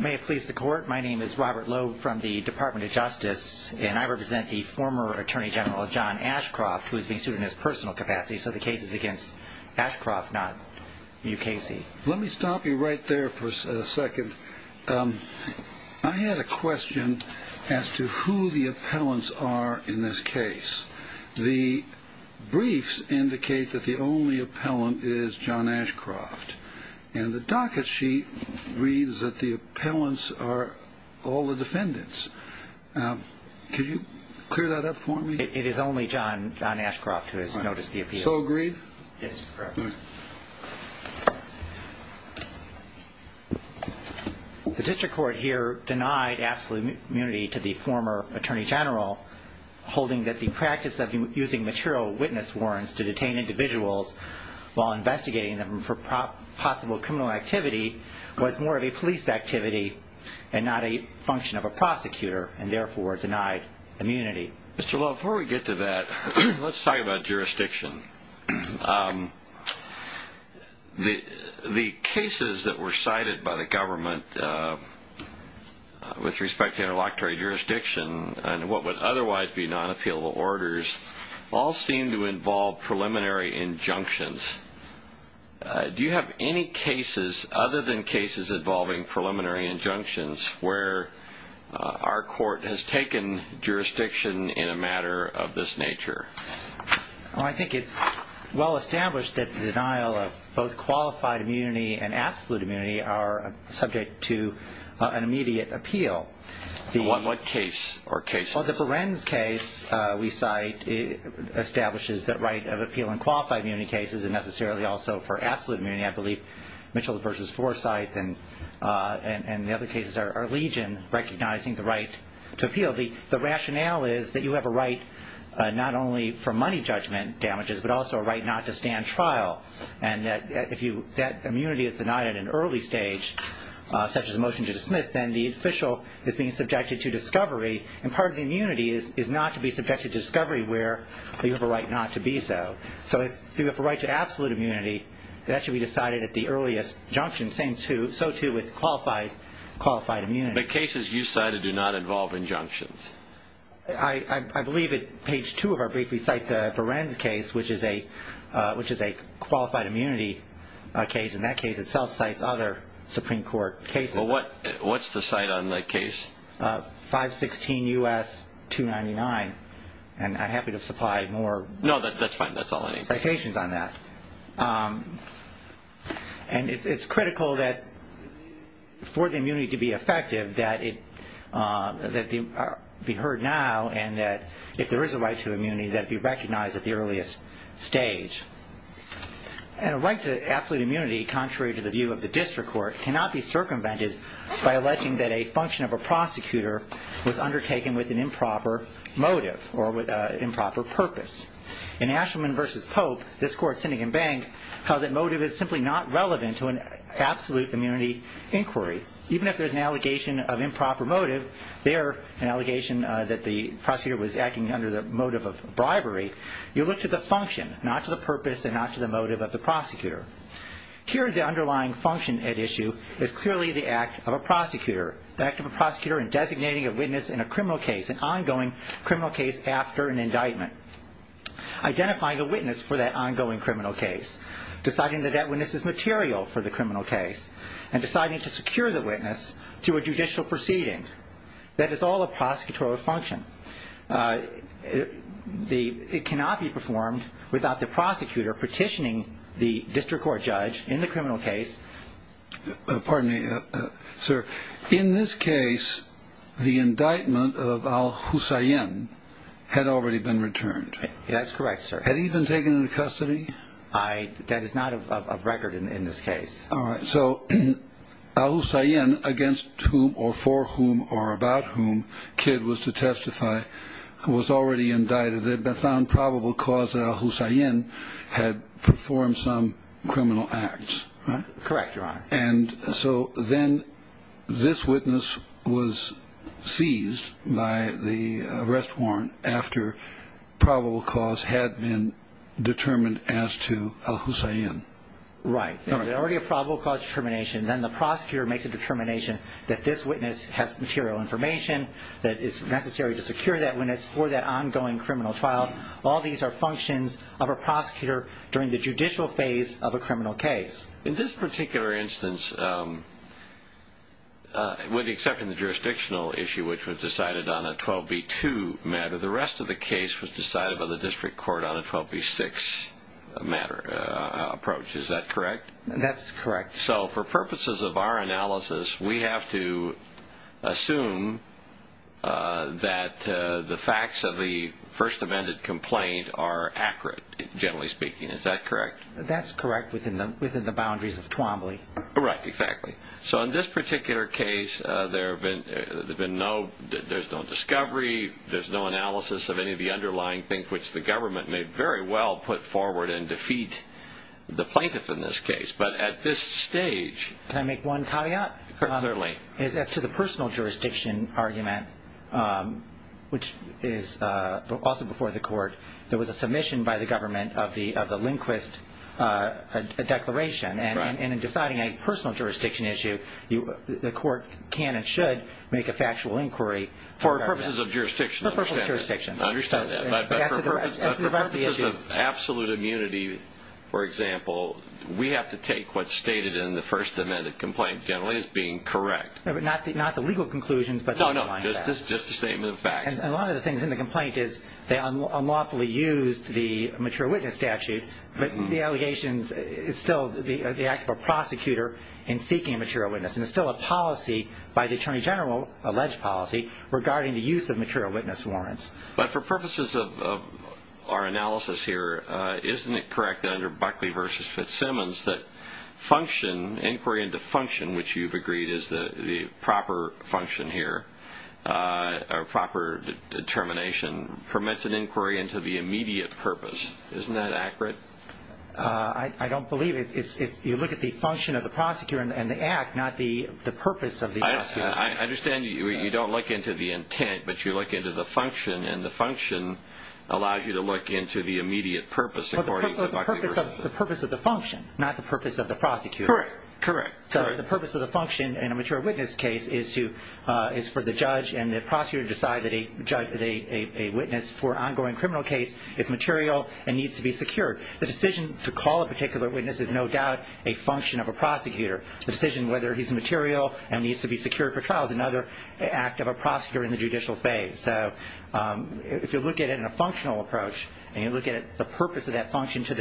May it please the court, my name is Robert Lowe from the Department of Justice, and I represent the former Attorney General John Ashcroft, who is being sued in his personal capacity, so the case is against Ashcroft, not New Casey. Let me stop you right there for a second. I had a question as to who the appellants are in this case. The briefs indicate that the only appellant is John Ashcroft, and the docket sheet reads that the appellants are all the defendants. Can you clear that up for me? It is only John Ashcroft who has noticed the appeal. Yes, sir. The district court here denied absolute immunity to the former Attorney General, holding that the practice of using material witness warrants to detain individuals while investigating them for possible criminal activity was more of a police activity and not a function of a prosecutor, and therefore denied immunity. Mr. Lowe, before we get to that, let's talk about jurisdiction. The cases that were cited by the government with respect to interlocutory jurisdiction and what would otherwise be non-appealable orders all seem to involve preliminary injunctions. Do you have any cases other than cases involving preliminary injunctions where our court has taken jurisdiction in a matter of this nature? I think it's well established that the denial of both qualified immunity and absolute immunity are subject to an immediate appeal. On what case or cases? Well, the Berenz case we cite establishes the right of appeal in qualified immunity cases and necessarily also for absolute immunity. I believe Mitchell v. Forsythe and the other cases are legion recognizing the right to appeal. The rationale is that you have a right not only for money judgment damages but also a right not to stand trial, and that if that immunity is denied at an early stage, such as a motion to dismiss, then the official is being subjected to discovery, and part of the immunity is not to be subjected to discovery where you have a right not to be so. So if you have a right to absolute immunity, that should be decided at the earliest injunction, so too with qualified immunity. But cases you cited do not involve injunctions. I believe at page 2 of our brief we cite the Berenz case, which is a qualified immunity case, and that case itself cites other Supreme Court cases. Well, what's the cite on that case? 516 U.S. 299, and I'm happy to supply more citations on that. No, that's fine. That's all I need. And it's critical that for the immunity to be effective that it be heard now and that if there is a right to immunity that it be recognized at the earliest stage. And a right to absolute immunity, contrary to the view of the district court, cannot be circumvented by electing that a function of a prosecutor was undertaken with an improper motive or with an improper purpose. In Asherman v. Pope, this court, Sinigan Bank, held that motive is simply not relevant to an absolute immunity inquiry. Even if there's an allegation of improper motive there, an allegation that the prosecutor was acting under the motive of bribery, you look to the function, not to the purpose and not to the motive of the prosecutor. Here, the underlying function at issue is clearly the act of a prosecutor. The act of a prosecutor in designating a witness in a criminal case, an ongoing criminal case after an indictment, identifying a witness for that ongoing criminal case, deciding that that witness is material for the criminal case, and deciding to secure the witness through a judicial proceeding. That is all a prosecutorial function. It cannot be performed without the prosecutor petitioning the district court judge in the criminal case. Pardon me, sir. In this case, the indictment of al-Husayn had already been returned. That's correct, sir. Had he been taken into custody? That is not of record in this case. All right. So al-Husayn, against whom or for whom or about whom Kidd was to testify, was already indicted. They found probable cause that al-Husayn had performed some criminal acts, right? Correct, Your Honor. And so then this witness was seized by the arrest warrant after probable cause had been determined as to al-Husayn. Right. If there's already a probable cause determination, then the prosecutor makes a determination that this witness has material information, that it's necessary to secure that witness for that ongoing criminal trial. All these are functions of a prosecutor during the judicial phase of a criminal case. In this particular instance, with the exception of the jurisdictional issue, which was decided on a 12b-2 matter, the rest of the case was decided by the district court on a 12b-6 matter approach. Is that correct? That's correct. So for purposes of our analysis, we have to assume that the facts of the First Amendment complaint are accurate, generally speaking. Is that correct? That's correct within the boundaries of Twombly. Right, exactly. So in this particular case, there's been no discovery, there's no analysis of any of the underlying things which the government may very well put forward and defeat the plaintiff in this case. But at this stage – Can I make one caveat? Clearly. As to the personal jurisdiction argument, which is also before the court, there was a submission by the government of the Lindquist Declaration, and in deciding a personal jurisdiction issue, the court can and should make a factual inquiry. For purposes of jurisdiction. For purposes of jurisdiction. I understand that. But for purposes of absolute immunity, for example, we have to take what's stated in the First Amendment complaint generally as being correct. Not the legal conclusions, but the underlying facts. No, no, just the statement of facts. And one of the things in the complaint is they unlawfully used the mature witness statute, but the allegations, it's still the act of a prosecutor in seeking a material witness, and it's still a policy by the Attorney General, alleged policy, regarding the use of material witness warrants. But for purposes of our analysis here, isn't it correct that under Buckley v. Fitzsimmons that function, inquiry into function, which you've agreed is the proper function here, or proper determination, permits an inquiry into the immediate purpose. Isn't that accurate? I don't believe it. You look at the function of the prosecutor and the act, not the purpose of the prosecutor. I understand you don't look into the intent, but you look into the function, and the function allows you to look into the immediate purpose according to Buckley v. Fitzsimmons. The purpose of the function, not the purpose of the prosecutor. Correct. So the purpose of the function in a material witness case is for the judge and the prosecutor to decide that a witness for an ongoing criminal case is material and needs to be secured. The decision to call a particular witness is no doubt a function of a prosecutor. The decision whether he's material and needs to be secured for trial is another act of a prosecutor in the judicial phase. So if you look at it in a functional approach, and you look at the purpose of that function to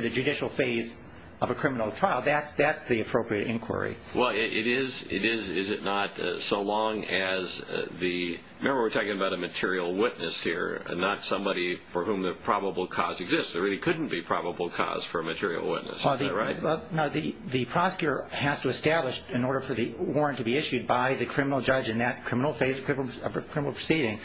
the judicial phase of a criminal trial, that's the appropriate inquiry. Well, it is, is it not, so long as the, remember we're talking about a material witness here and not somebody for whom the probable cause exists. There really couldn't be probable cause for a material witness. Is that right? No, the prosecutor has to establish, in order for the warrant to be issued by the criminal judge in that criminal phase of a criminal proceeding,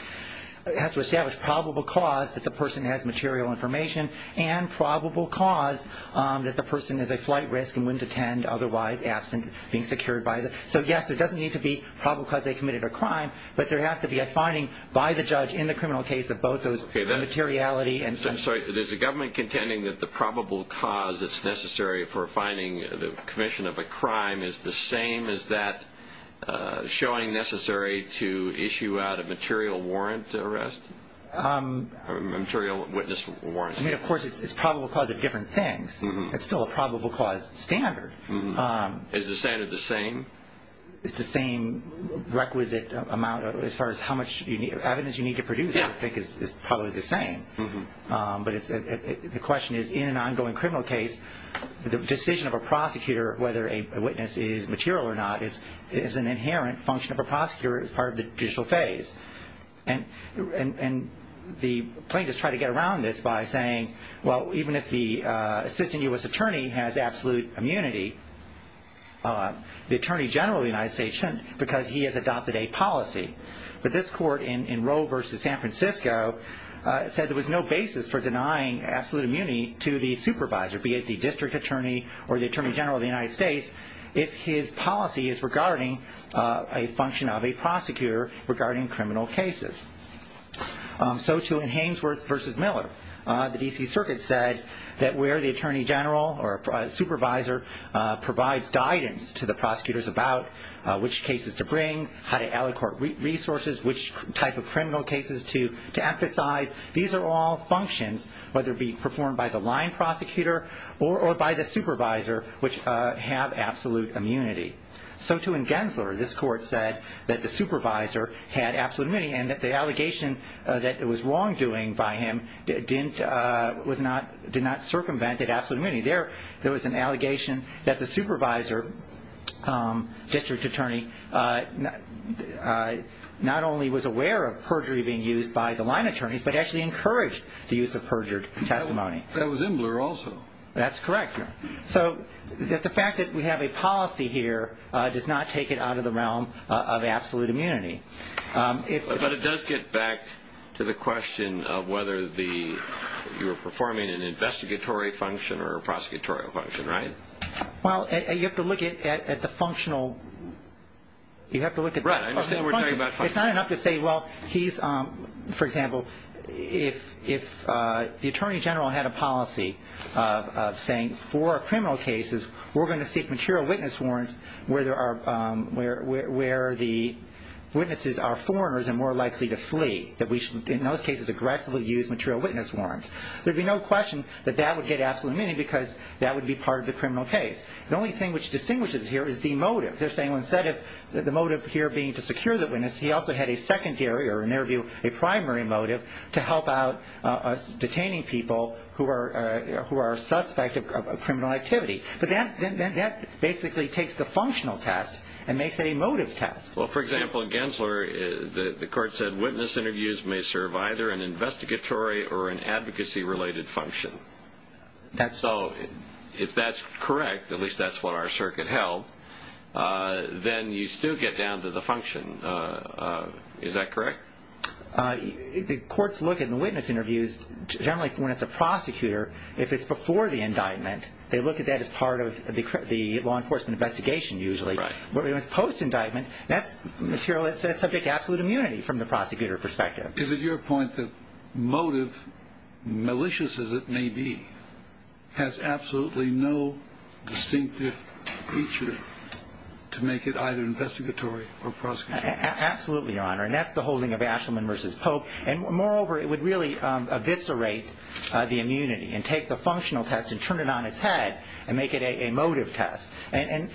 has to establish probable cause that the person has material information and probable cause that the person is a flight risk and wouldn't attend otherwise, absent being secured by the, so yes, there doesn't need to be probable cause they committed a crime, but there has to be a finding by the judge in the criminal case of both those materiality and... I'm sorry. There's a government contending that the probable cause that's necessary for finding the commission of a crime is the same as that showing necessary to issue out a material warrant arrest, material witness warrant. I mean, of course, it's probable cause of different things. It's still a probable cause standard. Is the standard the same? It's the same requisite amount as far as how much evidence you need to produce, I think, is probably the same. But the question is, in an ongoing criminal case, the decision of a prosecutor whether a witness is material or not is an inherent function of a prosecutor as part of the judicial phase. And the plaintiffs try to get around this by saying, well, even if the assistant U.S. attorney has absolute immunity, the attorney general of the United States shouldn't because he has adopted a policy. But this court in Roe v. San Francisco said there was no basis for denying absolute immunity to the supervisor, be it the district attorney or the attorney general of the United States, if his policy is regarding a function of a prosecutor regarding criminal cases. So, too, in Hainsworth v. Miller, the D.C. Circuit said that where the attorney general or supervisor provides guidance to the prosecutors about which cases to bring, how to allocate resources, which type of criminal cases to emphasize, these are all functions, whether it be performed by the line prosecutor or by the supervisor, which have absolute immunity. So, too, in Gensler, this court said that the supervisor had absolute immunity and that the allegation that it was wrongdoing by him did not circumvent that absolute immunity. There was an allegation that the supervisor, district attorney, not only was aware of perjury being used by the line attorneys but actually encouraged the use of perjured testimony. That was in Miller also. That's correct. So the fact that we have a policy here does not take it out of the realm of absolute immunity. But it does get back to the question of whether you're performing an investigatory function or a prosecutorial function, right? Well, you have to look at the functional. You have to look at the functional. Right, I understand we're talking about functional. But it's not enough to say, well, he's, for example, if the attorney general had a policy of saying for criminal cases, we're going to seek material witness warrants where the witnesses are foreigners and more likely to flee, that we should, in those cases, aggressively use material witness warrants. There would be no question that that would get absolute immunity because that would be part of the criminal case. The only thing which distinguishes it here is the motive. They're saying instead of the motive here being to secure the witness, he also had a secondary or, in their view, a primary motive to help out detaining people who are a suspect of criminal activity. But that basically takes the functional test and makes it a motive test. Well, for example, in Gensler, the court said witness interviews may serve either an investigatory or an advocacy-related function. So if that's correct, at least that's what our circuit held, then you still get down to the function. Is that correct? The courts look at the witness interviews generally when it's a prosecutor. If it's before the indictment, they look at that as part of the law enforcement investigation usually. But when it's post-indictment, that's material that's subject to absolute immunity from the prosecutor perspective. Is it your point that motive, malicious as it may be, has absolutely no distinctive feature to make it either investigatory or prosecutorial? Absolutely, Your Honor, and that's the holding of Ashleman v. Pope. And moreover, it would really eviscerate the immunity and take the functional test and turn it on its head and make it a motive test and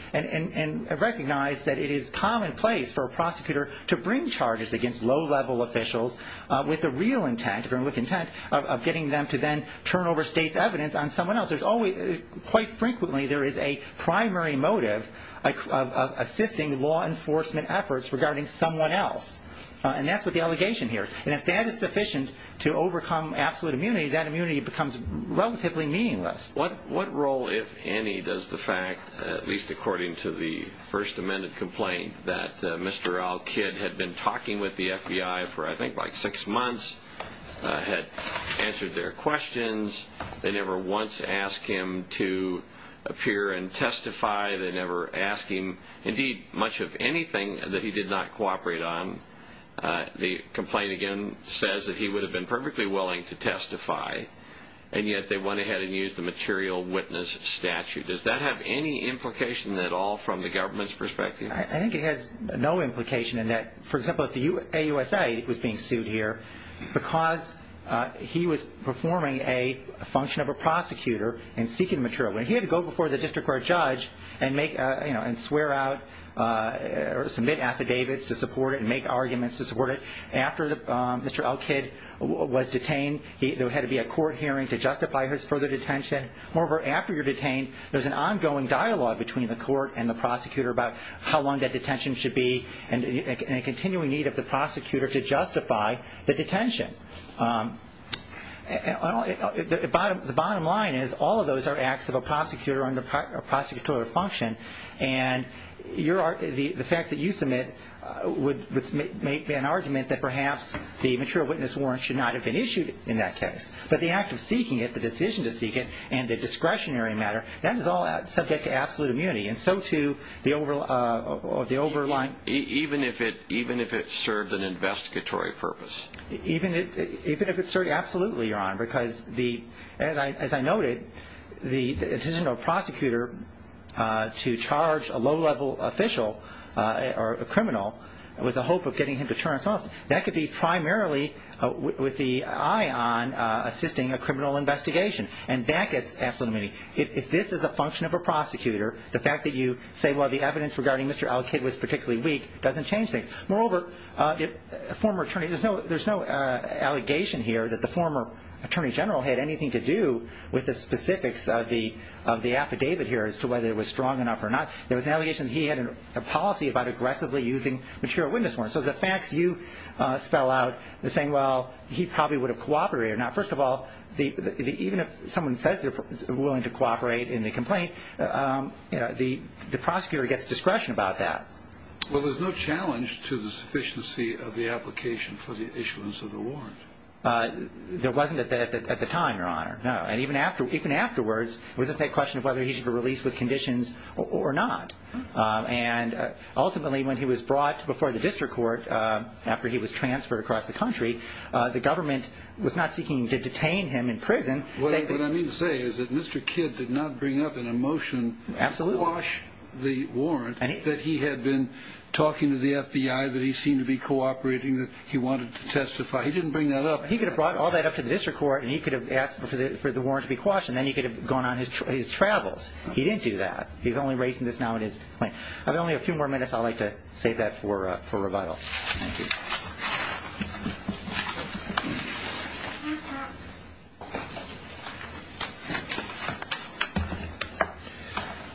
recognize that it is commonplace for a prosecutor to bring charges against low-level officials with the real intent of getting them to then turn over state's evidence on someone else. Quite frequently, there is a primary motive of assisting law enforcement efforts regarding someone else. And that's what the allegation here is. And if that is sufficient to overcome absolute immunity, that immunity becomes relatively meaningless. What role, if any, does the fact, at least according to the First Amendment complaint, that Mr. Al Kidd had been talking with the FBI for, I think, like six months, had answered their questions. They never once asked him to appear and testify. They never asked him, indeed, much of anything that he did not cooperate on. The complaint, again, says that he would have been perfectly willing to testify, and yet they went ahead and used the material witness statute. Does that have any implication at all from the government's perspective? I think it has no implication in that, for example, if the AUSA was being sued here because he was performing a function of a prosecutor and seeking material. When he had to go before the district court judge and swear out or submit affidavits to support it and make arguments to support it, after Mr. Al Kidd was detained, there had to be a court hearing to justify his further detention. Moreover, after you're detained, there's an ongoing dialogue between the court and the prosecutor about how long that detention should be and a continuing need of the prosecutor to justify the detention. The bottom line is all of those are acts of a prosecutor or prosecutorial function, and the facts that you submit would make an argument that perhaps the material witness warrant should not have been issued in that case. But the act of seeking it, the decision to seek it, and the discretionary matter, that is all subject to absolute immunity. And so, too, the overlying... Even if it served an investigatory purpose? Even if it served absolutely, Your Honor, because as I noted, the decision of a prosecutor to charge a low-level official or a criminal with the hope of getting him to turn himself in, that could be primarily with the eye on assisting a criminal investigation, and that gets absolute immunity. If this is a function of a prosecutor, the fact that you say, well, the evidence regarding Mr. Al-Kid was particularly weak doesn't change things. Moreover, there's no allegation here that the former attorney general had anything to do with the specifics of the affidavit here as to whether it was strong enough or not. There was an allegation that he had a policy about aggressively using material witness warrants. So the facts you spell out are saying, well, he probably would have cooperated. Now, first of all, even if someone says they're willing to cooperate in the complaint, the prosecutor gets discretion about that. Well, there's no challenge to the sufficiency of the application for the issuance of the warrant. There wasn't at the time, Your Honor, no. And even afterwards, it was just a question of whether he should be released with conditions or not. And ultimately, when he was brought before the district court, after he was transferred across the country, the government was not seeking to detain him in prison. What I mean to say is that Mr. Kid did not bring up in a motion to quash the warrant that he had been talking to the FBI that he seemed to be cooperating, that he wanted to testify. He didn't bring that up. He could have brought all that up to the district court, and he could have asked for the warrant to be quashed, and then he could have gone on his travels. He didn't do that. He's only raising this now in his complaint. I have only a few more minutes. I'd like to save that for rebuttal. Thank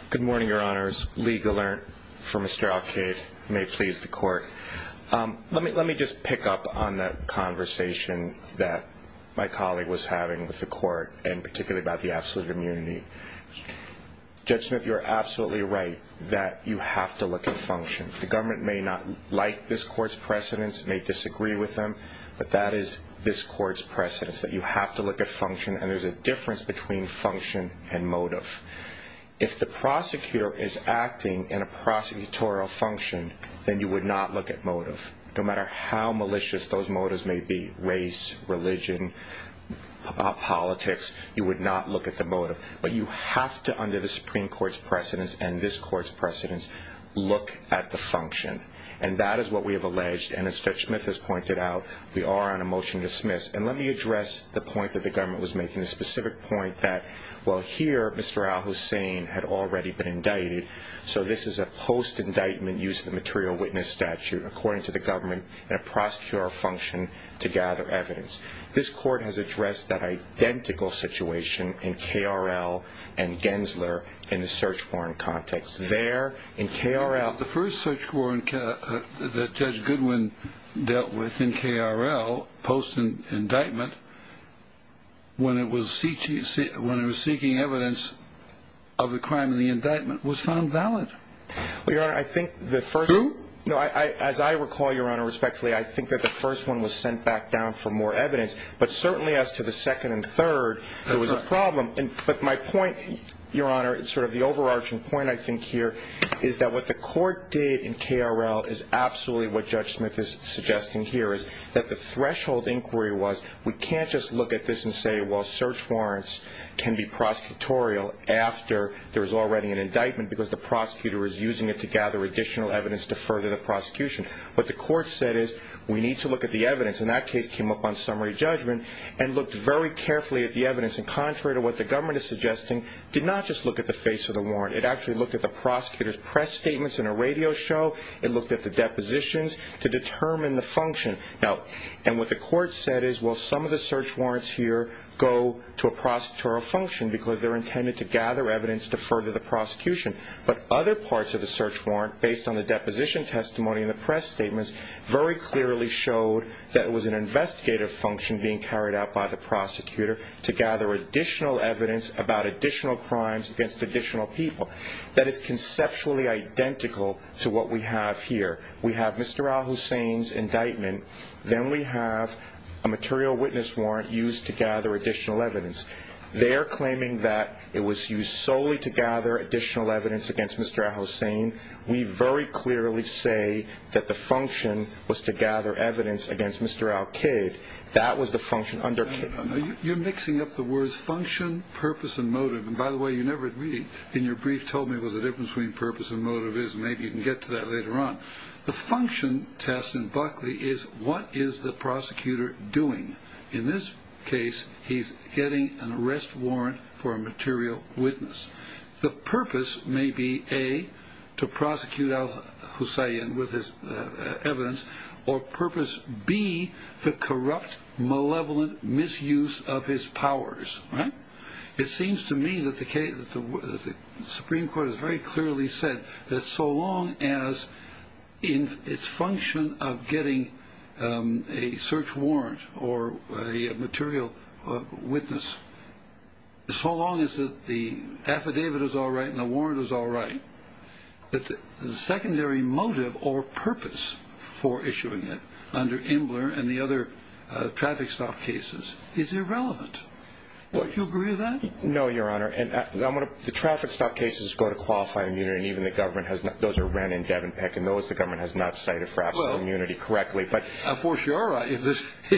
you. Good morning, Your Honors. Lee Gallant for Mr. Al-Kid. You may please the court. Let me just pick up on that conversation that my colleague was having with the court, and particularly about the absolute immunity. Judge Smith, you are absolutely right that you have to look at function. The government may not like this court's precedents, may disagree with them, but that is this court's precedents, that you have to look at function, and there's a difference between function and motive. If the prosecutor is acting in a prosecutorial function, then you would not look at motive. No matter how malicious those motives may be, race, religion, politics, you would not look at the motive. But you have to, under the Supreme Court's precedents and this court's precedents, look at the function. And that is what we have alleged, and as Judge Smith has pointed out, we are on a motion to dismiss. And let me address the point that the government was making, the specific point that, well, here, Mr. Al-Hussein had already been indicted, so this is a post-indictment use of the material witness statute, according to the government, in a prosecutorial function to gather evidence. This court has addressed that identical situation in K.R.L. and Gensler in the search warrant context. There, in K.R.L. The first search warrant that Judge Goodwin dealt with in K.R.L., post-indictment, when it was seeking evidence of the crime in the indictment, was found valid. Well, Your Honor, I think the first one. True? No, as I recall, Your Honor, respectfully, I think that the first one was sent back down for more evidence, but certainly as to the second and third, it was a problem. But my point, Your Honor, sort of the overarching point, I think, here, is that what the court did in K.R.L. is absolutely what Judge Smith is suggesting here, is that the threshold inquiry was, we can't just look at this and say, well, search warrants can be prosecutorial after there's already an indictment because the prosecutor is using it to gather additional evidence to further the prosecution. What the court said is, we need to look at the evidence. And that case came up on summary judgment and looked very carefully at the evidence and contrary to what the government is suggesting, did not just look at the face of the warrant. It actually looked at the prosecutor's press statements in a radio show. It looked at the depositions to determine the function. And what the court said is, well, some of the search warrants here go to a prosecutorial function because they're intended to gather evidence to further the prosecution. But other parts of the search warrant, based on the deposition testimony and the press statements, very clearly showed that it was an investigative function being carried out by the prosecutor to gather additional evidence about additional crimes against additional people. That is conceptually identical to what we have here. We have Mr. al-Hussein's indictment. Then we have a material witness warrant used to gather additional evidence. They're claiming that it was used solely to gather additional evidence against Mr. al-Hussein. We very clearly say that the function was to gather evidence against Mr. al-Kid. That was the function under Kidd. You're mixing up the words function, purpose, and motive. And, by the way, you never really in your brief told me what the difference between purpose and motive is. Maybe you can get to that later on. The function test in Buckley is, what is the prosecutor doing? In this case, he's getting an arrest warrant for a material witness. The purpose may be, A, to prosecute al-Hussein with his evidence, or purpose, B, the corrupt, malevolent misuse of his powers. It seems to me that the Supreme Court has very clearly said that so long as its function of getting a search warrant or a material witness, so long as the affidavit is all right and the warrant is all right, that the secondary motive or purpose for issuing it under Imler and the other traffic stop cases is irrelevant. Do you agree with that? No, Your Honor. The traffic stop cases go to qualified immunity. Those are Wren and Devenpeck, and those the government has not cited for absolute immunity correctly. Well, of course, you are right. If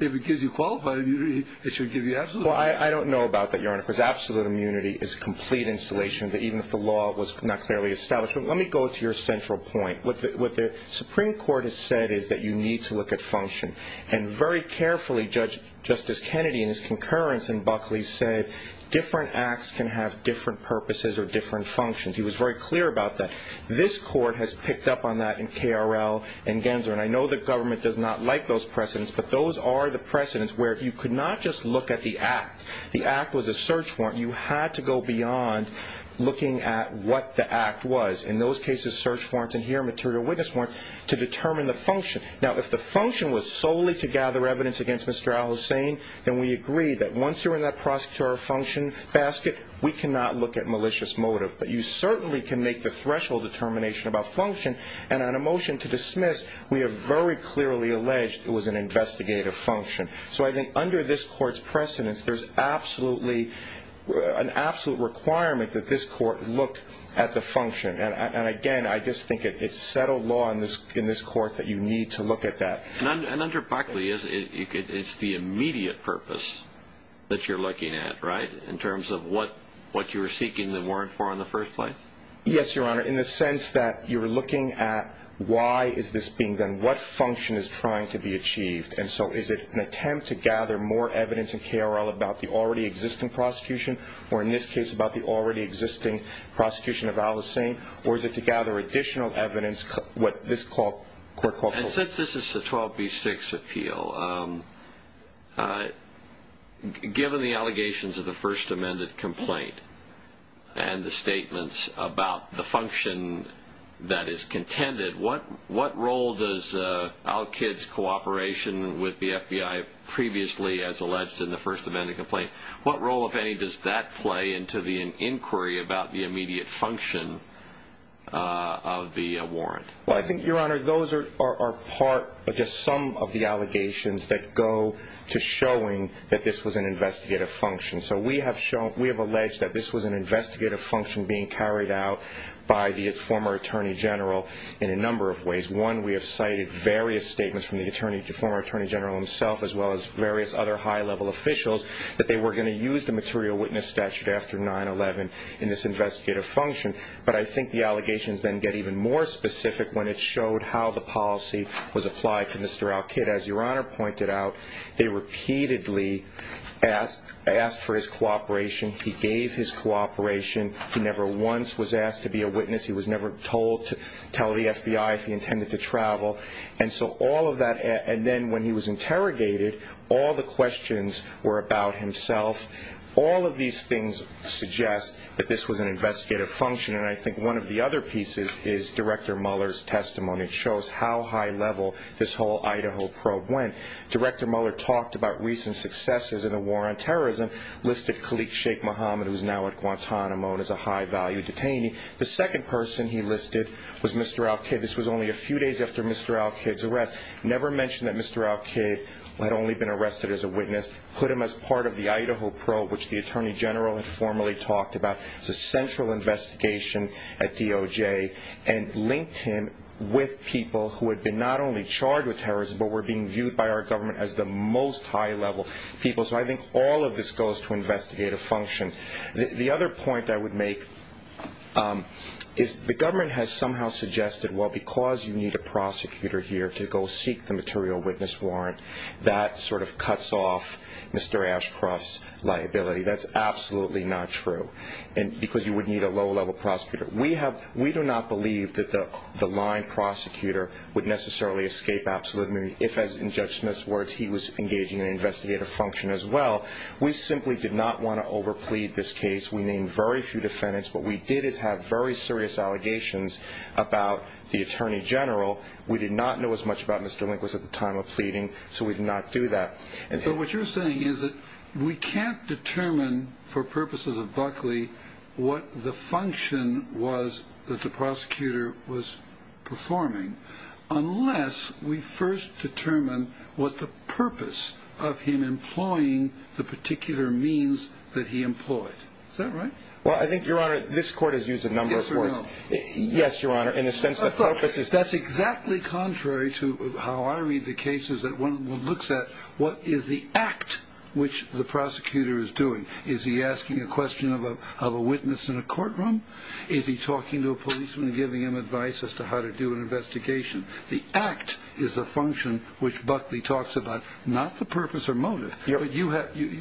it gives you qualified immunity, it should give you absolute immunity. Well, I don't know about that, Your Honor, because absolute immunity is complete insulation even if the law was not clearly established. But let me go to your central point. What the Supreme Court has said is that you need to look at function. And very carefully, Justice Kennedy in his concurrence in Buckley said, different acts can have different purposes or different functions. He was very clear about that. This Court has picked up on that in KRL and Gensler. And I know the government does not like those precedents, but those are the precedents where you could not just look at the act. The act was a search warrant. You had to go beyond looking at what the act was. In those cases, search warrants and here material witness warrants to determine the function. Now, if the function was solely to gather evidence against Mr. al-Hussein, then we agree that once you're in that prosecutorial function basket, we cannot look at malicious motive. But you certainly can make the threshold determination about function. And on a motion to dismiss, we have very clearly alleged it was an investigative function. So I think under this Court's precedents, there's absolutely an absolute requirement that this Court look at the function. And, again, I just think it's settled law in this Court that you need to look at that. And under Buckley, it's the immediate purpose that you're looking at, right, in terms of what you were seeking the warrant for in the first place? Yes, Your Honor, in the sense that you're looking at why is this being done, what function is trying to be achieved. And so is it an attempt to gather more evidence in KRL about the already existing prosecution or, in this case, about the already existing prosecution of al-Hussein, or is it to gather additional evidence, what this Court called? And since this is the 12b-6 appeal, given the allegations of the first amended complaint and the statements about the function that is contended, what role does Al-Kid's cooperation with the FBI previously, as alleged in the first amended complaint, what role, if any, does that play into the inquiry about the immediate function of the warrant? Well, I think, Your Honor, those are part of just some of the allegations that go to showing that this was an investigative function. So we have alleged that this was an investigative function being carried out by the former Attorney General in a number of ways. One, we have cited various statements from the former Attorney General himself, as well as various other high-level officials, that they were going to use the material witness statute after 9-11 in this investigative function. But I think the allegations then get even more specific when it showed how the policy was applied to Mr. Al-Kid. As Your Honor pointed out, they repeatedly asked for his cooperation. He gave his cooperation. He never once was asked to be a witness. He was never told to tell the FBI if he intended to travel. And so all of that, and then when he was interrogated, all the questions were about himself. All of these things suggest that this was an investigative function. And I think one of the other pieces is Director Mueller's testimony. It shows how high-level this whole Idaho probe went. Director Mueller talked about recent successes in the war on terrorism, listed Khalid Sheikh Mohammed, who's now at Guantanamo, as a high-value detainee. The second person he listed was Mr. Al-Kid. This was only a few days after Mr. Al-Kid's arrest. Never mentioned that Mr. Al-Kid had only been arrested as a witness. Put him as part of the Idaho probe, which the Attorney General had formally talked about. It's a central investigation at DOJ, and linked him with people who had been not only charged with terrorism but were being viewed by our government as the most high-level people. So I think all of this goes to investigative function. The other point I would make is the government has somehow suggested, well, because you need a prosecutor here to go seek the material witness warrant, that sort of cuts off Mr. Ashcroft's liability. That's absolutely not true, because you would need a low-level prosecutor. We do not believe that the line prosecutor would necessarily escape absolute immunity if, as in Judge Smith's words, he was engaging in investigative function as well. We simply did not want to overplead this case. We named very few defendants. What we did is have very serious allegations about the Attorney General. We did not know as much about Mr. Lindquist at the time of pleading, so we did not do that. But what you're saying is that we can't determine for purposes of Buckley what the function was that the prosecutor was performing unless we first determine what the purpose of him employing the particular means that he employed. Is that right? Well, I think, Your Honor, this Court has used a number of words. Yes or no? Yes, Your Honor, in the sense that purposes... That's exactly contrary to how I read the cases that one looks at what is the act which the prosecutor is doing. Is he asking a question of a witness in a courtroom? Is he talking to a policeman and giving him advice as to how to do an investigation? The act is the function which Buckley talks about, not the purpose or motive. But you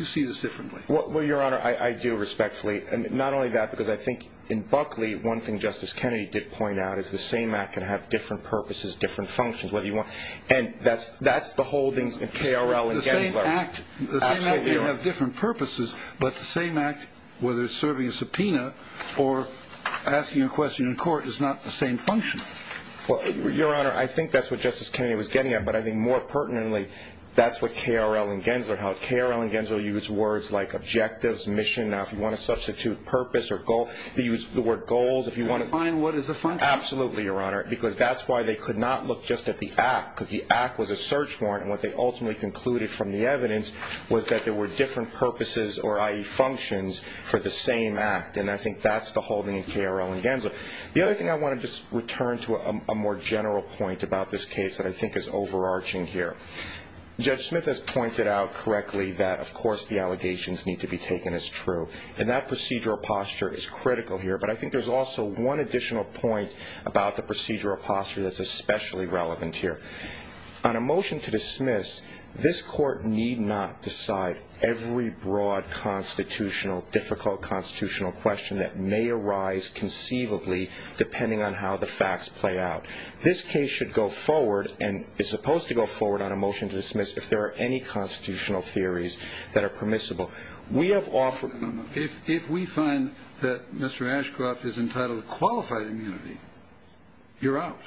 see this differently. Well, Your Honor, I do respectfully. Not only that, because I think in Buckley one thing Justice Kennedy did point out is the same act can have different purposes, different functions. And that's the holdings in K.R.L. and Gensler. The same act may have different purposes, but the same act, whether it's serving a subpoena or asking a question in court, is not the same function. Well, Your Honor, I think that's what Justice Kennedy was getting at, but I think more pertinently that's what K.R.L. and Gensler held. K.R.L. and Gensler used words like objectives, mission. Now, if you want to substitute purpose or goal, they used the word goals. Define what is a function. Absolutely, Your Honor, because that's why they could not look just at the act, because the act was a search warrant, and what they ultimately concluded from the evidence was that there were different purposes, or i.e., functions, for the same act. And I think that's the holding in K.R.L. and Gensler. The other thing I want to just return to a more general point about this case that I think is overarching here. Judge Smith has pointed out correctly that, of course, the allegations need to be taken as true. And that procedural posture is critical here. But I think there's also one additional point about the procedural posture that's especially relevant here. On a motion to dismiss, this Court need not decide every broad constitutional, difficult constitutional question that may arise conceivably depending on how the facts play out. This case should go forward and is supposed to go forward on a motion to dismiss if there are any constitutional theories that are permissible. If we find that Mr. Ashcroft is entitled to qualified immunity, you're out.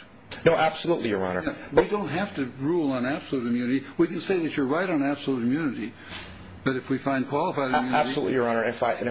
No, absolutely, Your Honor. We don't have to rule on absolute immunity. We can say that you're right on absolute immunity, but if we find qualified immunity. Absolutely, Your Honor. And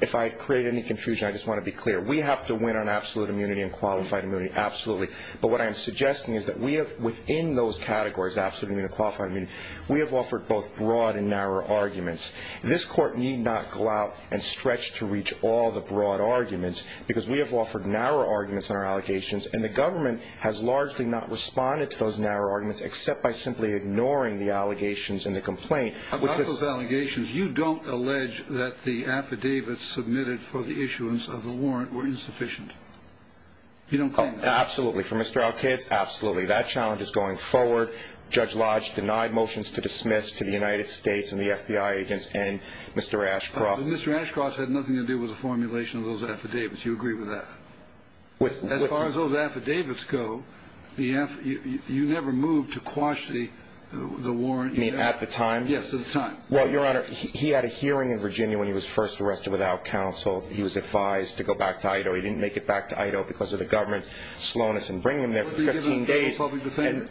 if I create any confusion, I just want to be clear. We have to win on absolute immunity and qualified immunity, absolutely. But what I am suggesting is that we have, within those categories, absolute immunity, we have offered both broad and narrow arguments. This Court need not go out and stretch to reach all the broad arguments because we have offered narrow arguments on our allegations, and the government has largely not responded to those narrow arguments except by simply ignoring the allegations in the complaint. About those allegations, you don't allege that the affidavits submitted for the issuance of the warrant were insufficient. You don't think that? Absolutely. Absolutely. That challenge is going forward. Judge Lodge denied motions to dismiss to the United States and the FBI agents and Mr. Ashcroft. Mr. Ashcroft said nothing to do with the formulation of those affidavits. You agree with that? As far as those affidavits go, you never moved to quash the warrant. You mean at the time? Yes, at the time. Well, Your Honor, he had a hearing in Virginia when he was first arrested without counsel. He was advised to go back to Idaho. He didn't make it back to Idaho because of the government's slowness in bringing him there for 15 days. He was given a public defender.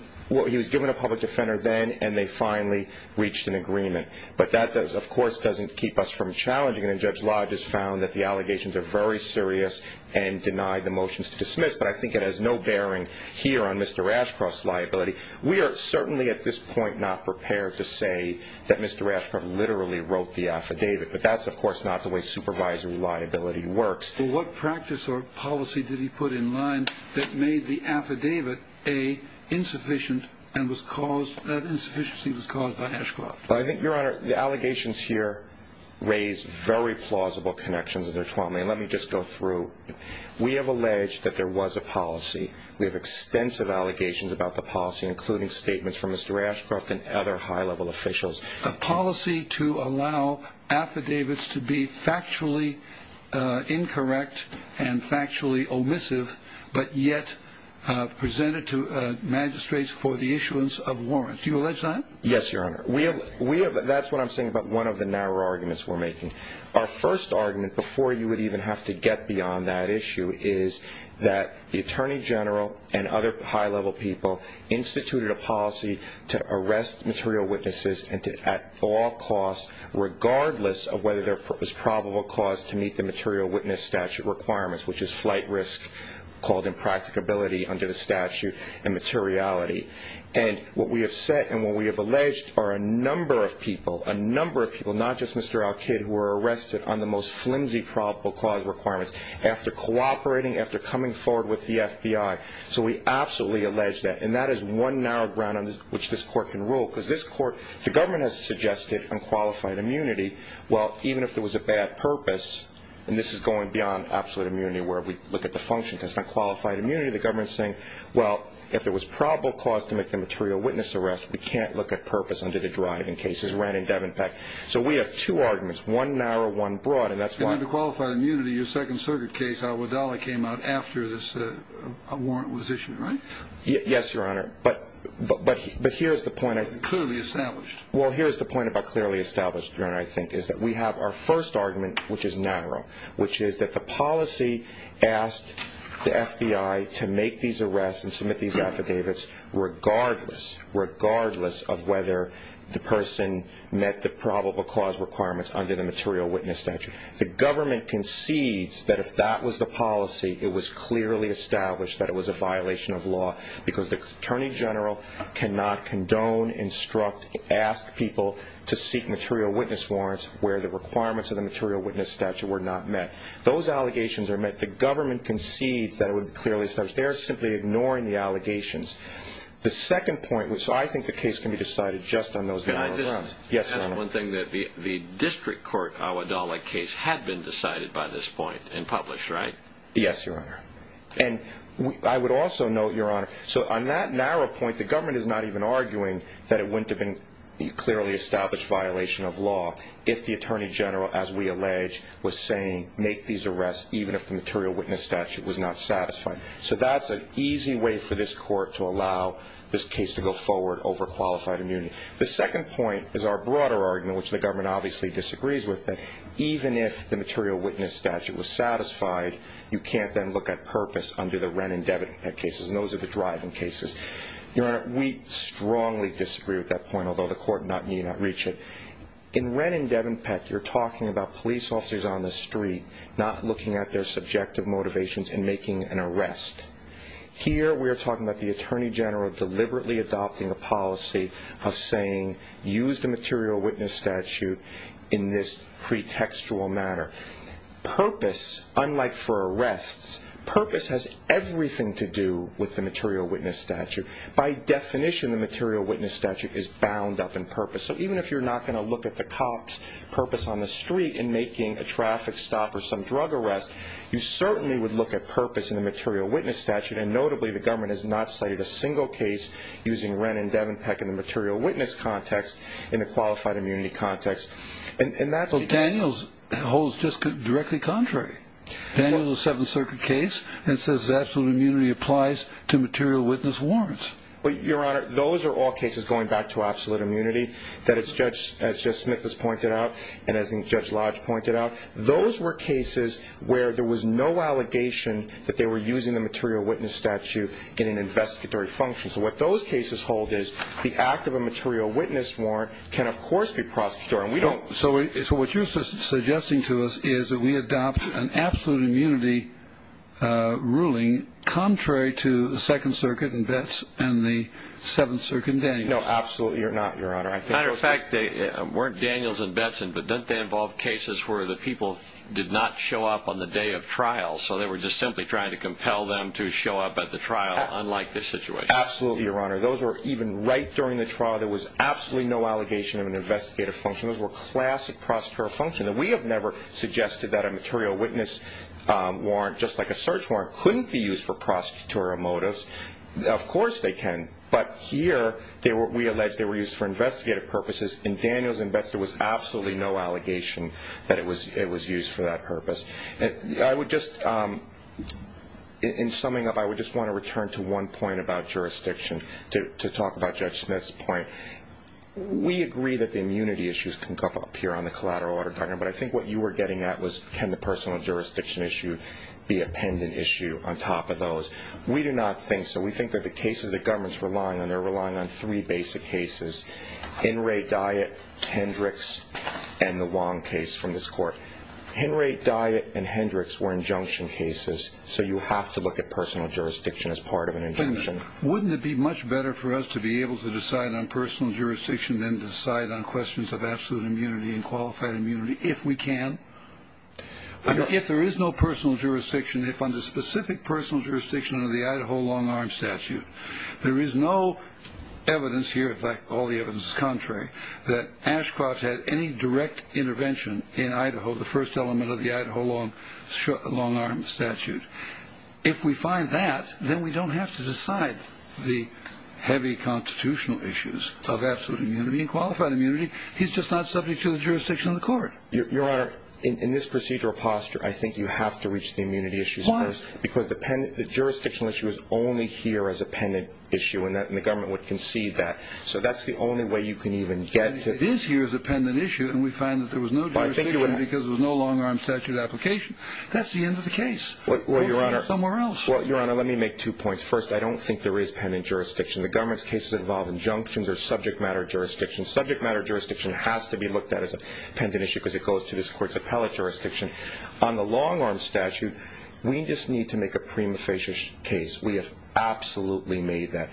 He was given a public defender then, and they finally reached an agreement. But that, of course, doesn't keep us from challenging it, and Judge Lodge has found that the allegations are very serious and denied the motions to dismiss. But I think it has no bearing here on Mr. Ashcroft's liability. We are certainly at this point not prepared to say that Mr. Ashcroft literally wrote the affidavit, but that's, of course, not the way supervisory liability works. What practice or policy did he put in line that made the affidavit, A, insufficient and that insufficiency was caused by Ashcroft? Well, I think, Your Honor, the allegations here raise very plausible connections. Let me just go through. We have alleged that there was a policy. We have extensive allegations about the policy, including statements from Mr. Ashcroft and other high-level officials. A policy to allow affidavits to be factually incorrect and factually omissive but yet presented to magistrates for the issuance of warrants. Do you allege that? Yes, Your Honor. That's what I'm saying about one of the narrow arguments we're making. Our first argument, before you would even have to get beyond that issue, is that the Attorney General and other high-level people instituted a policy to arrest material witnesses at all costs regardless of whether there was probable cause to meet the material witness statute requirements, which is flight risk called impracticability under the statute and materiality. And what we have said and what we have alleged are a number of people, a number of people, not just Mr. Alkid, who were arrested on the most flimsy probable cause requirements after cooperating, after coming forward with the FBI. So we absolutely allege that. And that is one narrow ground on which this Court can rule because this Court, the government has suggested unqualified immunity. Well, even if there was a bad purpose, and this is going beyond absolute immunity where we look at the function because it's not qualified immunity, the government is saying, well, if there was probable cause to make the material witness arrest, we can't look at purpose under the driving cases, Rann and Devenpeck. So we have two arguments, one narrow, one broad, and that's why. And under qualified immunity, your Second Circuit case, Al-Wadali, came out after this warrant was issued, right? Yes, Your Honor. But here's the point. Clearly established. Well, here's the point about clearly established, Your Honor, I think, is that we have our first argument, which is narrow, which is that the policy asked the FBI to make these arrests and submit these affidavits regardless, regardless of whether the person met the probable cause requirements under the material witness statute. The government concedes that if that was the policy, it was clearly established that it was a violation of law because the attorney general cannot condone, instruct, ask people to seek material witness warrants where the requirements of the material witness statute were not met. Those allegations are met. The government concedes that it was clearly established. They are simply ignoring the allegations. The second point, which I think the case can be decided just on those narrow grounds. Can I just add one thing? Yes, Your Honor. The district court Al-Wadali case had been decided by this point and published, right? Yes, Your Honor. And I would also note, Your Honor, so on that narrow point, the government is not even arguing that it wouldn't have been clearly established violation of law if the attorney general, as we allege, was saying make these arrests even if the material witness statute was not satisfied. So that's an easy way for this court to allow this case to go forward over qualified immunity. The second point is our broader argument, which the government obviously disagrees with, that even if the material witness statute was satisfied, you can't then look at purpose under the Wren and Devenpette cases, and those are the driving cases. Your Honor, we strongly disagree with that point, although the court may not reach it. In Wren and Devenpette, you're talking about police officers on the street not looking at their subjective motivations in making an arrest. Here we are talking about the attorney general deliberately adopting a policy of saying use the material witness statute in this pretextual manner. Purpose, unlike for arrests, purpose has everything to do with the material witness statute. By definition, the material witness statute is bound up in purpose. So even if you're not going to look at the cop's purpose on the street in making a traffic stop or some drug arrest, you certainly would look at purpose in the material witness statute, and notably the government has not cited a single case using Wren and Devenpette in the material witness context in the qualified immunity context. So Daniels holds just directly contrary. Daniels is a Seventh Circuit case and says absolute immunity applies to material witness warrants. Your Honor, those are all cases going back to absolute immunity, as Judge Smith has pointed out and as Judge Lodge pointed out. Those were cases where there was no allegation that they were using the material witness statute in an investigatory function. So what those cases hold is the act of a material witness warrant can, of course, be prosecutorial. So what you're suggesting to us is that we adopt an absolute immunity ruling contrary to the Second Circuit and Betts and the Seventh Circuit and Daniels. No, absolutely not, Your Honor. Matter of fact, they weren't Daniels and Betts, but don't they involve cases where the people did not show up on the day of trial, so they were just simply trying to compel them to show up at the trial, unlike this situation? Absolutely, Your Honor. Those were even right during the trial. There was absolutely no allegation of an investigative function. Those were classic prosecutorial functions. We have never suggested that a material witness warrant, just like a search warrant, couldn't be used for prosecutorial motives. Of course they can, but here we allege they were used for investigative purposes. In Daniels and Betts, there was absolutely no allegation that it was used for that purpose. In summing up, I would just want to return to one point about jurisdiction to talk about Judge Smith's point. We agree that the immunity issues can come up here on the collateral order document, but I think what you were getting at was can the personal jurisdiction issue be a pendant issue on top of those. We do not think so. We think that the cases the government's relying on, they're relying on three basic cases, Henry Diet, Hendricks, and the Wong case from this court. Henry Diet and Hendricks were injunction cases, Wouldn't it be much better for us to be able to decide on personal jurisdiction than decide on questions of absolute immunity and qualified immunity if we can? If there is no personal jurisdiction, if under specific personal jurisdiction under the Idaho long-arm statute, there is no evidence here, in fact all the evidence is contrary, that Ashcroft had any direct intervention in Idaho, the first element of the Idaho long-arm statute. If we find that, then we don't have to decide the heavy constitutional issues of absolute immunity and qualified immunity. He's just not subject to the jurisdiction of the court. Your Honor, in this procedural posture, I think you have to reach the immunity issues first. Why? Because the jurisdictional issue is only here as a pendant issue, and the government would concede that. So that's the only way you can even get to It is here as a pendant issue, and we find that there was no jurisdiction because there was no long-arm statute application. That's the end of the case. Well, Your Honor, let me make two points. First, I don't think there is pendant jurisdiction. The government's cases involve injunctions or subject matter jurisdiction. Subject matter jurisdiction has to be looked at as a pendant issue because it goes to this court's appellate jurisdiction. On the long-arm statute, we just need to make a prima facie case. We have absolutely made that.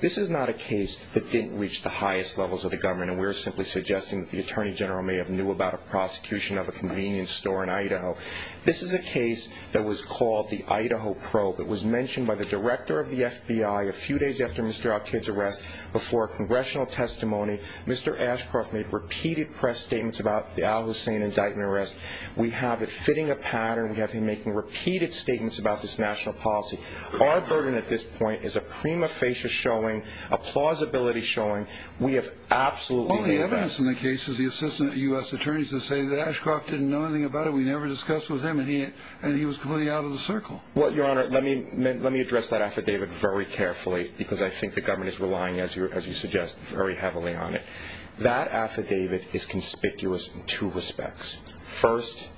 This is not a case that didn't reach the highest levels of the government, and we're simply suggesting that the Attorney General may have knew about a prosecution of a convenience store in Idaho. This is a case that was called the Idaho probe. It was mentioned by the director of the FBI a few days after Mr. Al-Kid's arrest. Before a congressional testimony, Mr. Ashcroft made repeated press statements about the Al-Hussein indictment arrest. We have it fitting a pattern. We have him making repeated statements about this national policy. Our burden at this point is a prima facie showing, a plausibility showing. We have absolutely made that. The evidence in the case is the assistant U.S. attorneys that say that Ashcroft didn't know anything about it. We never discussed it with him, and he was completely out of the circle. Your Honor, let me address that affidavit very carefully because I think the government is relying, as you suggest, very heavily on it. That affidavit is conspicuous in two respects. First,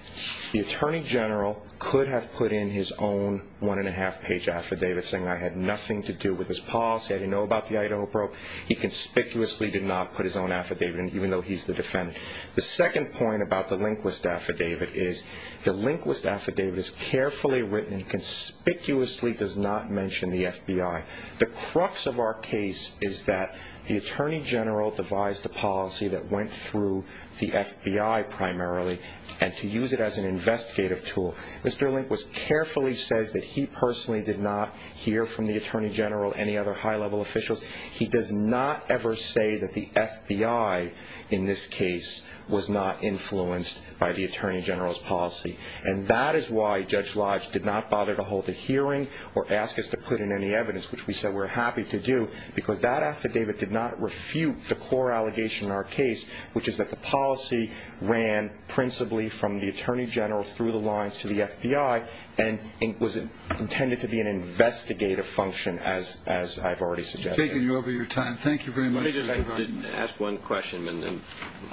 the Attorney General could have put in his own one-and-a-half-page affidavit saying, I had nothing to do with this policy, I didn't know about the Idaho probe. He conspicuously did not put his own affidavit in, even though he's the defendant. The second point about the Lindquist affidavit is the Lindquist affidavit is carefully written, conspicuously does not mention the FBI. The crux of our case is that the Attorney General devised a policy that went through the FBI primarily, and to use it as an investigative tool. Mr. Lindquist carefully says that he personally did not hear from the Attorney General or any other high-level officials. He does not ever say that the FBI, in this case, was not influenced by the Attorney General's policy. And that is why Judge Lodge did not bother to hold a hearing or ask us to put in any evidence, which we said we're happy to do, because that affidavit did not refute the core allegation in our case, which is that the policy ran principally from the Attorney General through the lines to the FBI, and was intended to be an investigative function, as I've already suggested. We've taken over your time. Thank you very much. Let me just ask one question, and then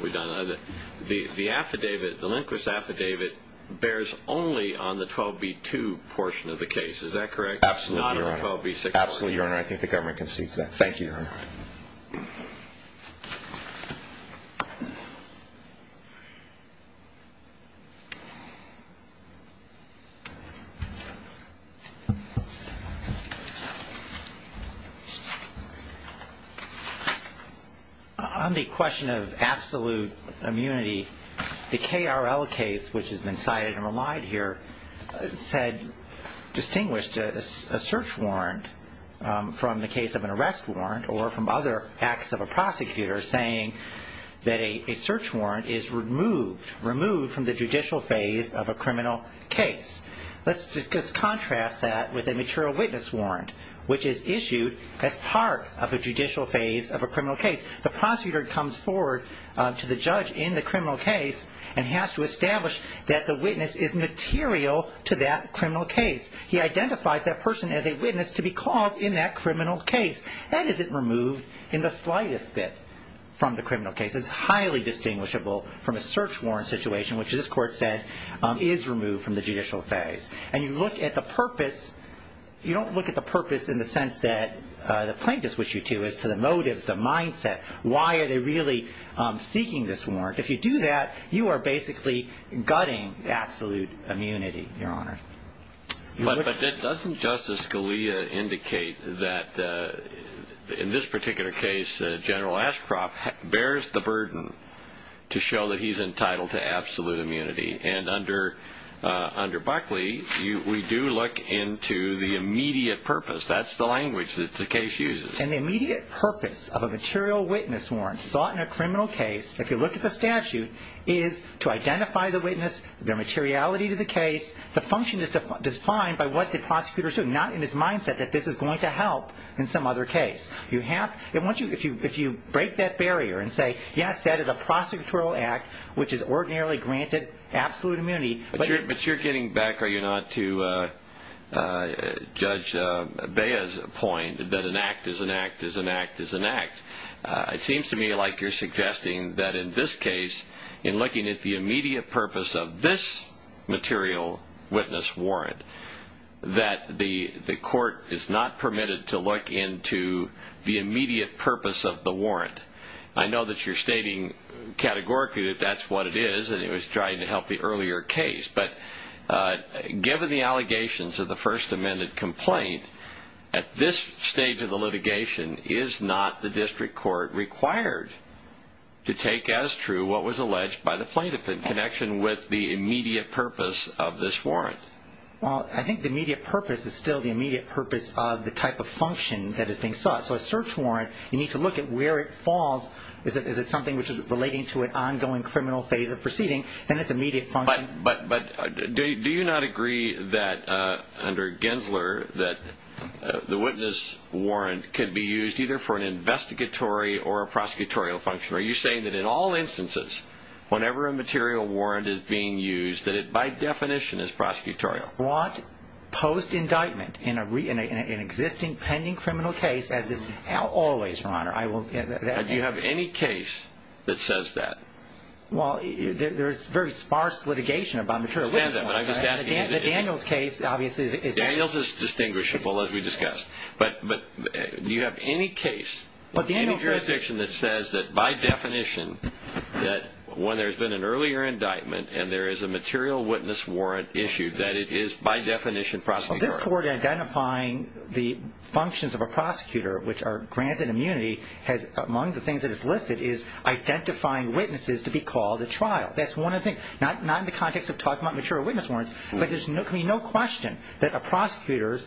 we're done. The affidavit, the Lindquist affidavit, bears only on the 12b-2 portion of the case, is that correct? Absolutely, Your Honor. Not on the 12b-6 portion. Absolutely, Your Honor. I think the government concedes that. Thank you, Your Honor. Thank you. On the question of absolute immunity, the KRL case, which has been cited and relied here, distinguished a search warrant from the case of an arrest warrant or from other acts of a prosecutor, saying that a search warrant is removed from the judicial phase of a criminal case. Let's just contrast that with a material witness warrant, which is issued as part of a judicial phase of a criminal case. The prosecutor comes forward to the judge in the criminal case and has to establish that the witness is material to that criminal case. He identifies that person as a witness to be called in that criminal case. That isn't removed in the slightest bit from the criminal case. It's highly distinguishable from a search warrant situation, which this Court said is removed from the judicial phase. And you look at the purpose. You don't look at the purpose in the sense that the plaintiffs wish you to as to the motives, the mindset. Why are they really seeking this warrant? If you do that, you are basically gutting absolute immunity, Your Honor. But doesn't Justice Scalia indicate that in this particular case, General Ashcroft bears the burden to show that he's entitled to absolute immunity? And under Buckley, we do look into the immediate purpose. That's the language that the case uses. And the immediate purpose of a material witness warrant sought in a criminal case, if you look at the statute, is to identify the witness, their materiality to the case, the function is defined by what the prosecutor is doing, not in his mindset that this is going to help in some other case. If you break that barrier and say, yes, that is a prosecutorial act, which is ordinarily granted absolute immunity. But you're getting back, are you not, to Judge Bea's point that an act is an act is an act is an act. It seems to me like you're suggesting that in this case, in looking at the immediate purpose of this material witness warrant, that the court is not permitted to look into the immediate purpose of the warrant. I know that you're stating categorically that that's what it is, and it was trying to help the earlier case. But given the allegations of the First Amendment complaint, at this stage of the litigation, is not the district court required to take as true what was alleged by the plaintiff in connection with the immediate purpose of this warrant? Well, I think the immediate purpose is still the immediate purpose of the type of function that is being sought. So a search warrant, you need to look at where it falls. Is it something which is relating to an ongoing criminal phase of proceeding? Then it's immediate function. But do you not agree that, under Gensler, that the witness warrant could be used either for an investigatory or a prosecutorial function? Are you saying that in all instances, whenever a material warrant is being used, that it by definition is prosecutorial? Post-indictment, in an existing pending criminal case, as is always, Your Honor. Do you have any case that says that? Well, there is very sparse litigation about material witness warrants. The Daniels case, obviously, is that. Daniels is distinguishable, as we discussed. But do you have any case in any jurisdiction that says that, by definition, that when there's been an earlier indictment and there is a material witness warrant issued, that it is by definition prosecutorial? Well, this court identifying the functions of a prosecutor, which are granted immunity, among the things that it's listed, is identifying witnesses to be called at trial. That's one of the things. Not in the context of talking about material witness warrants, but there's going to be no question that a prosecutor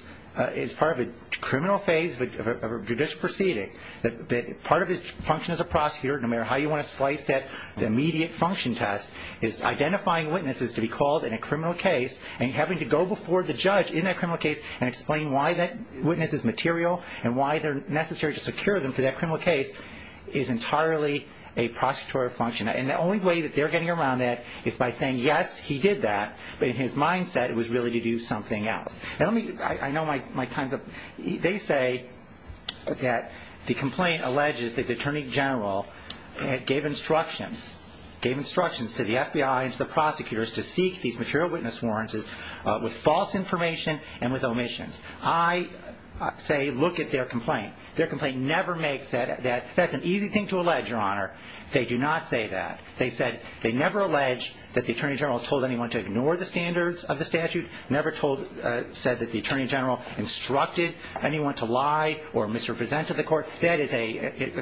is part of a criminal phase of a judicial proceeding, that part of his function as a prosecutor, no matter how you want to slice that immediate function test, is identifying witnesses to be called in a criminal case and having to go before the judge in that criminal case and explain why that witness is material and why they're necessary to secure them for that criminal case is entirely a prosecutorial function. And the only way that they're getting around that is by saying, yes, he did that, but in his mindset it was really to do something else. I know my time's up. They say that the complaint alleges that the Attorney General gave instructions, gave instructions to the FBI and to the prosecutors to seek these material witness warrants with false information and with omissions. I say look at their complaint. Their complaint never makes that. That's an easy thing to allege, Your Honor. They do not say that. They said they never alleged that the Attorney General told anyone to ignore the standards of the statute, never said that the Attorney General instructed anyone to lie or misrepresent to the court. That is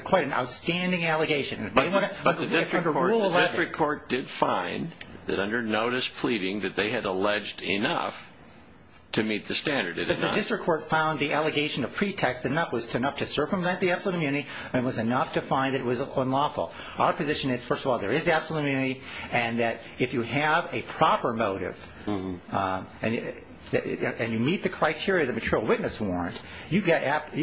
quite an outstanding allegation. But the district court did find that under notice pleading that they had alleged enough to meet the standard. The district court found the allegation of pretext enough to circumvent the absolute immunity and was enough to find it was unlawful. Our position is, first of all, there is absolute immunity, and that if you have a proper motive and you meet the criteria of the material witness warrant, you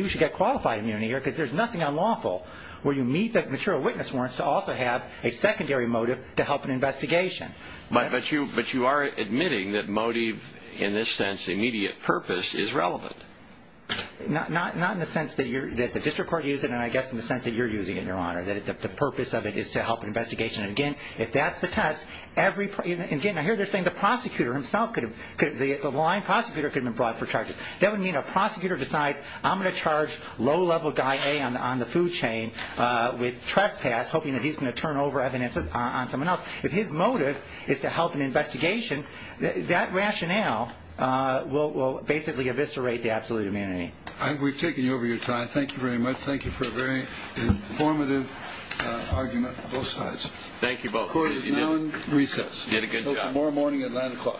should get qualified immunity because there's nothing unlawful where you meet the material witness warrant to also have a secondary motive to help an investigation. But you are admitting that motive, in this sense, immediate purpose, is relevant. Not in the sense that the district court used it, and I guess in the sense that you're using it, Your Honor, that the purpose of it is to help an investigation. Again, if that's the test, every – again, I hear they're saying the prosecutor himself could have – the lying prosecutor could have been brought for charges. That would mean a prosecutor decides I'm going to charge low-level guy A on the food chain with trespass, hoping that he's going to turn over evidence on someone else. If his motive is to help an investigation, that rationale will basically eviscerate the absolute immunity. We've taken you over your time. Thank you very much. Thank you for a very informative argument on both sides. Thank you both. Court is now in recess until tomorrow morning at 9 o'clock.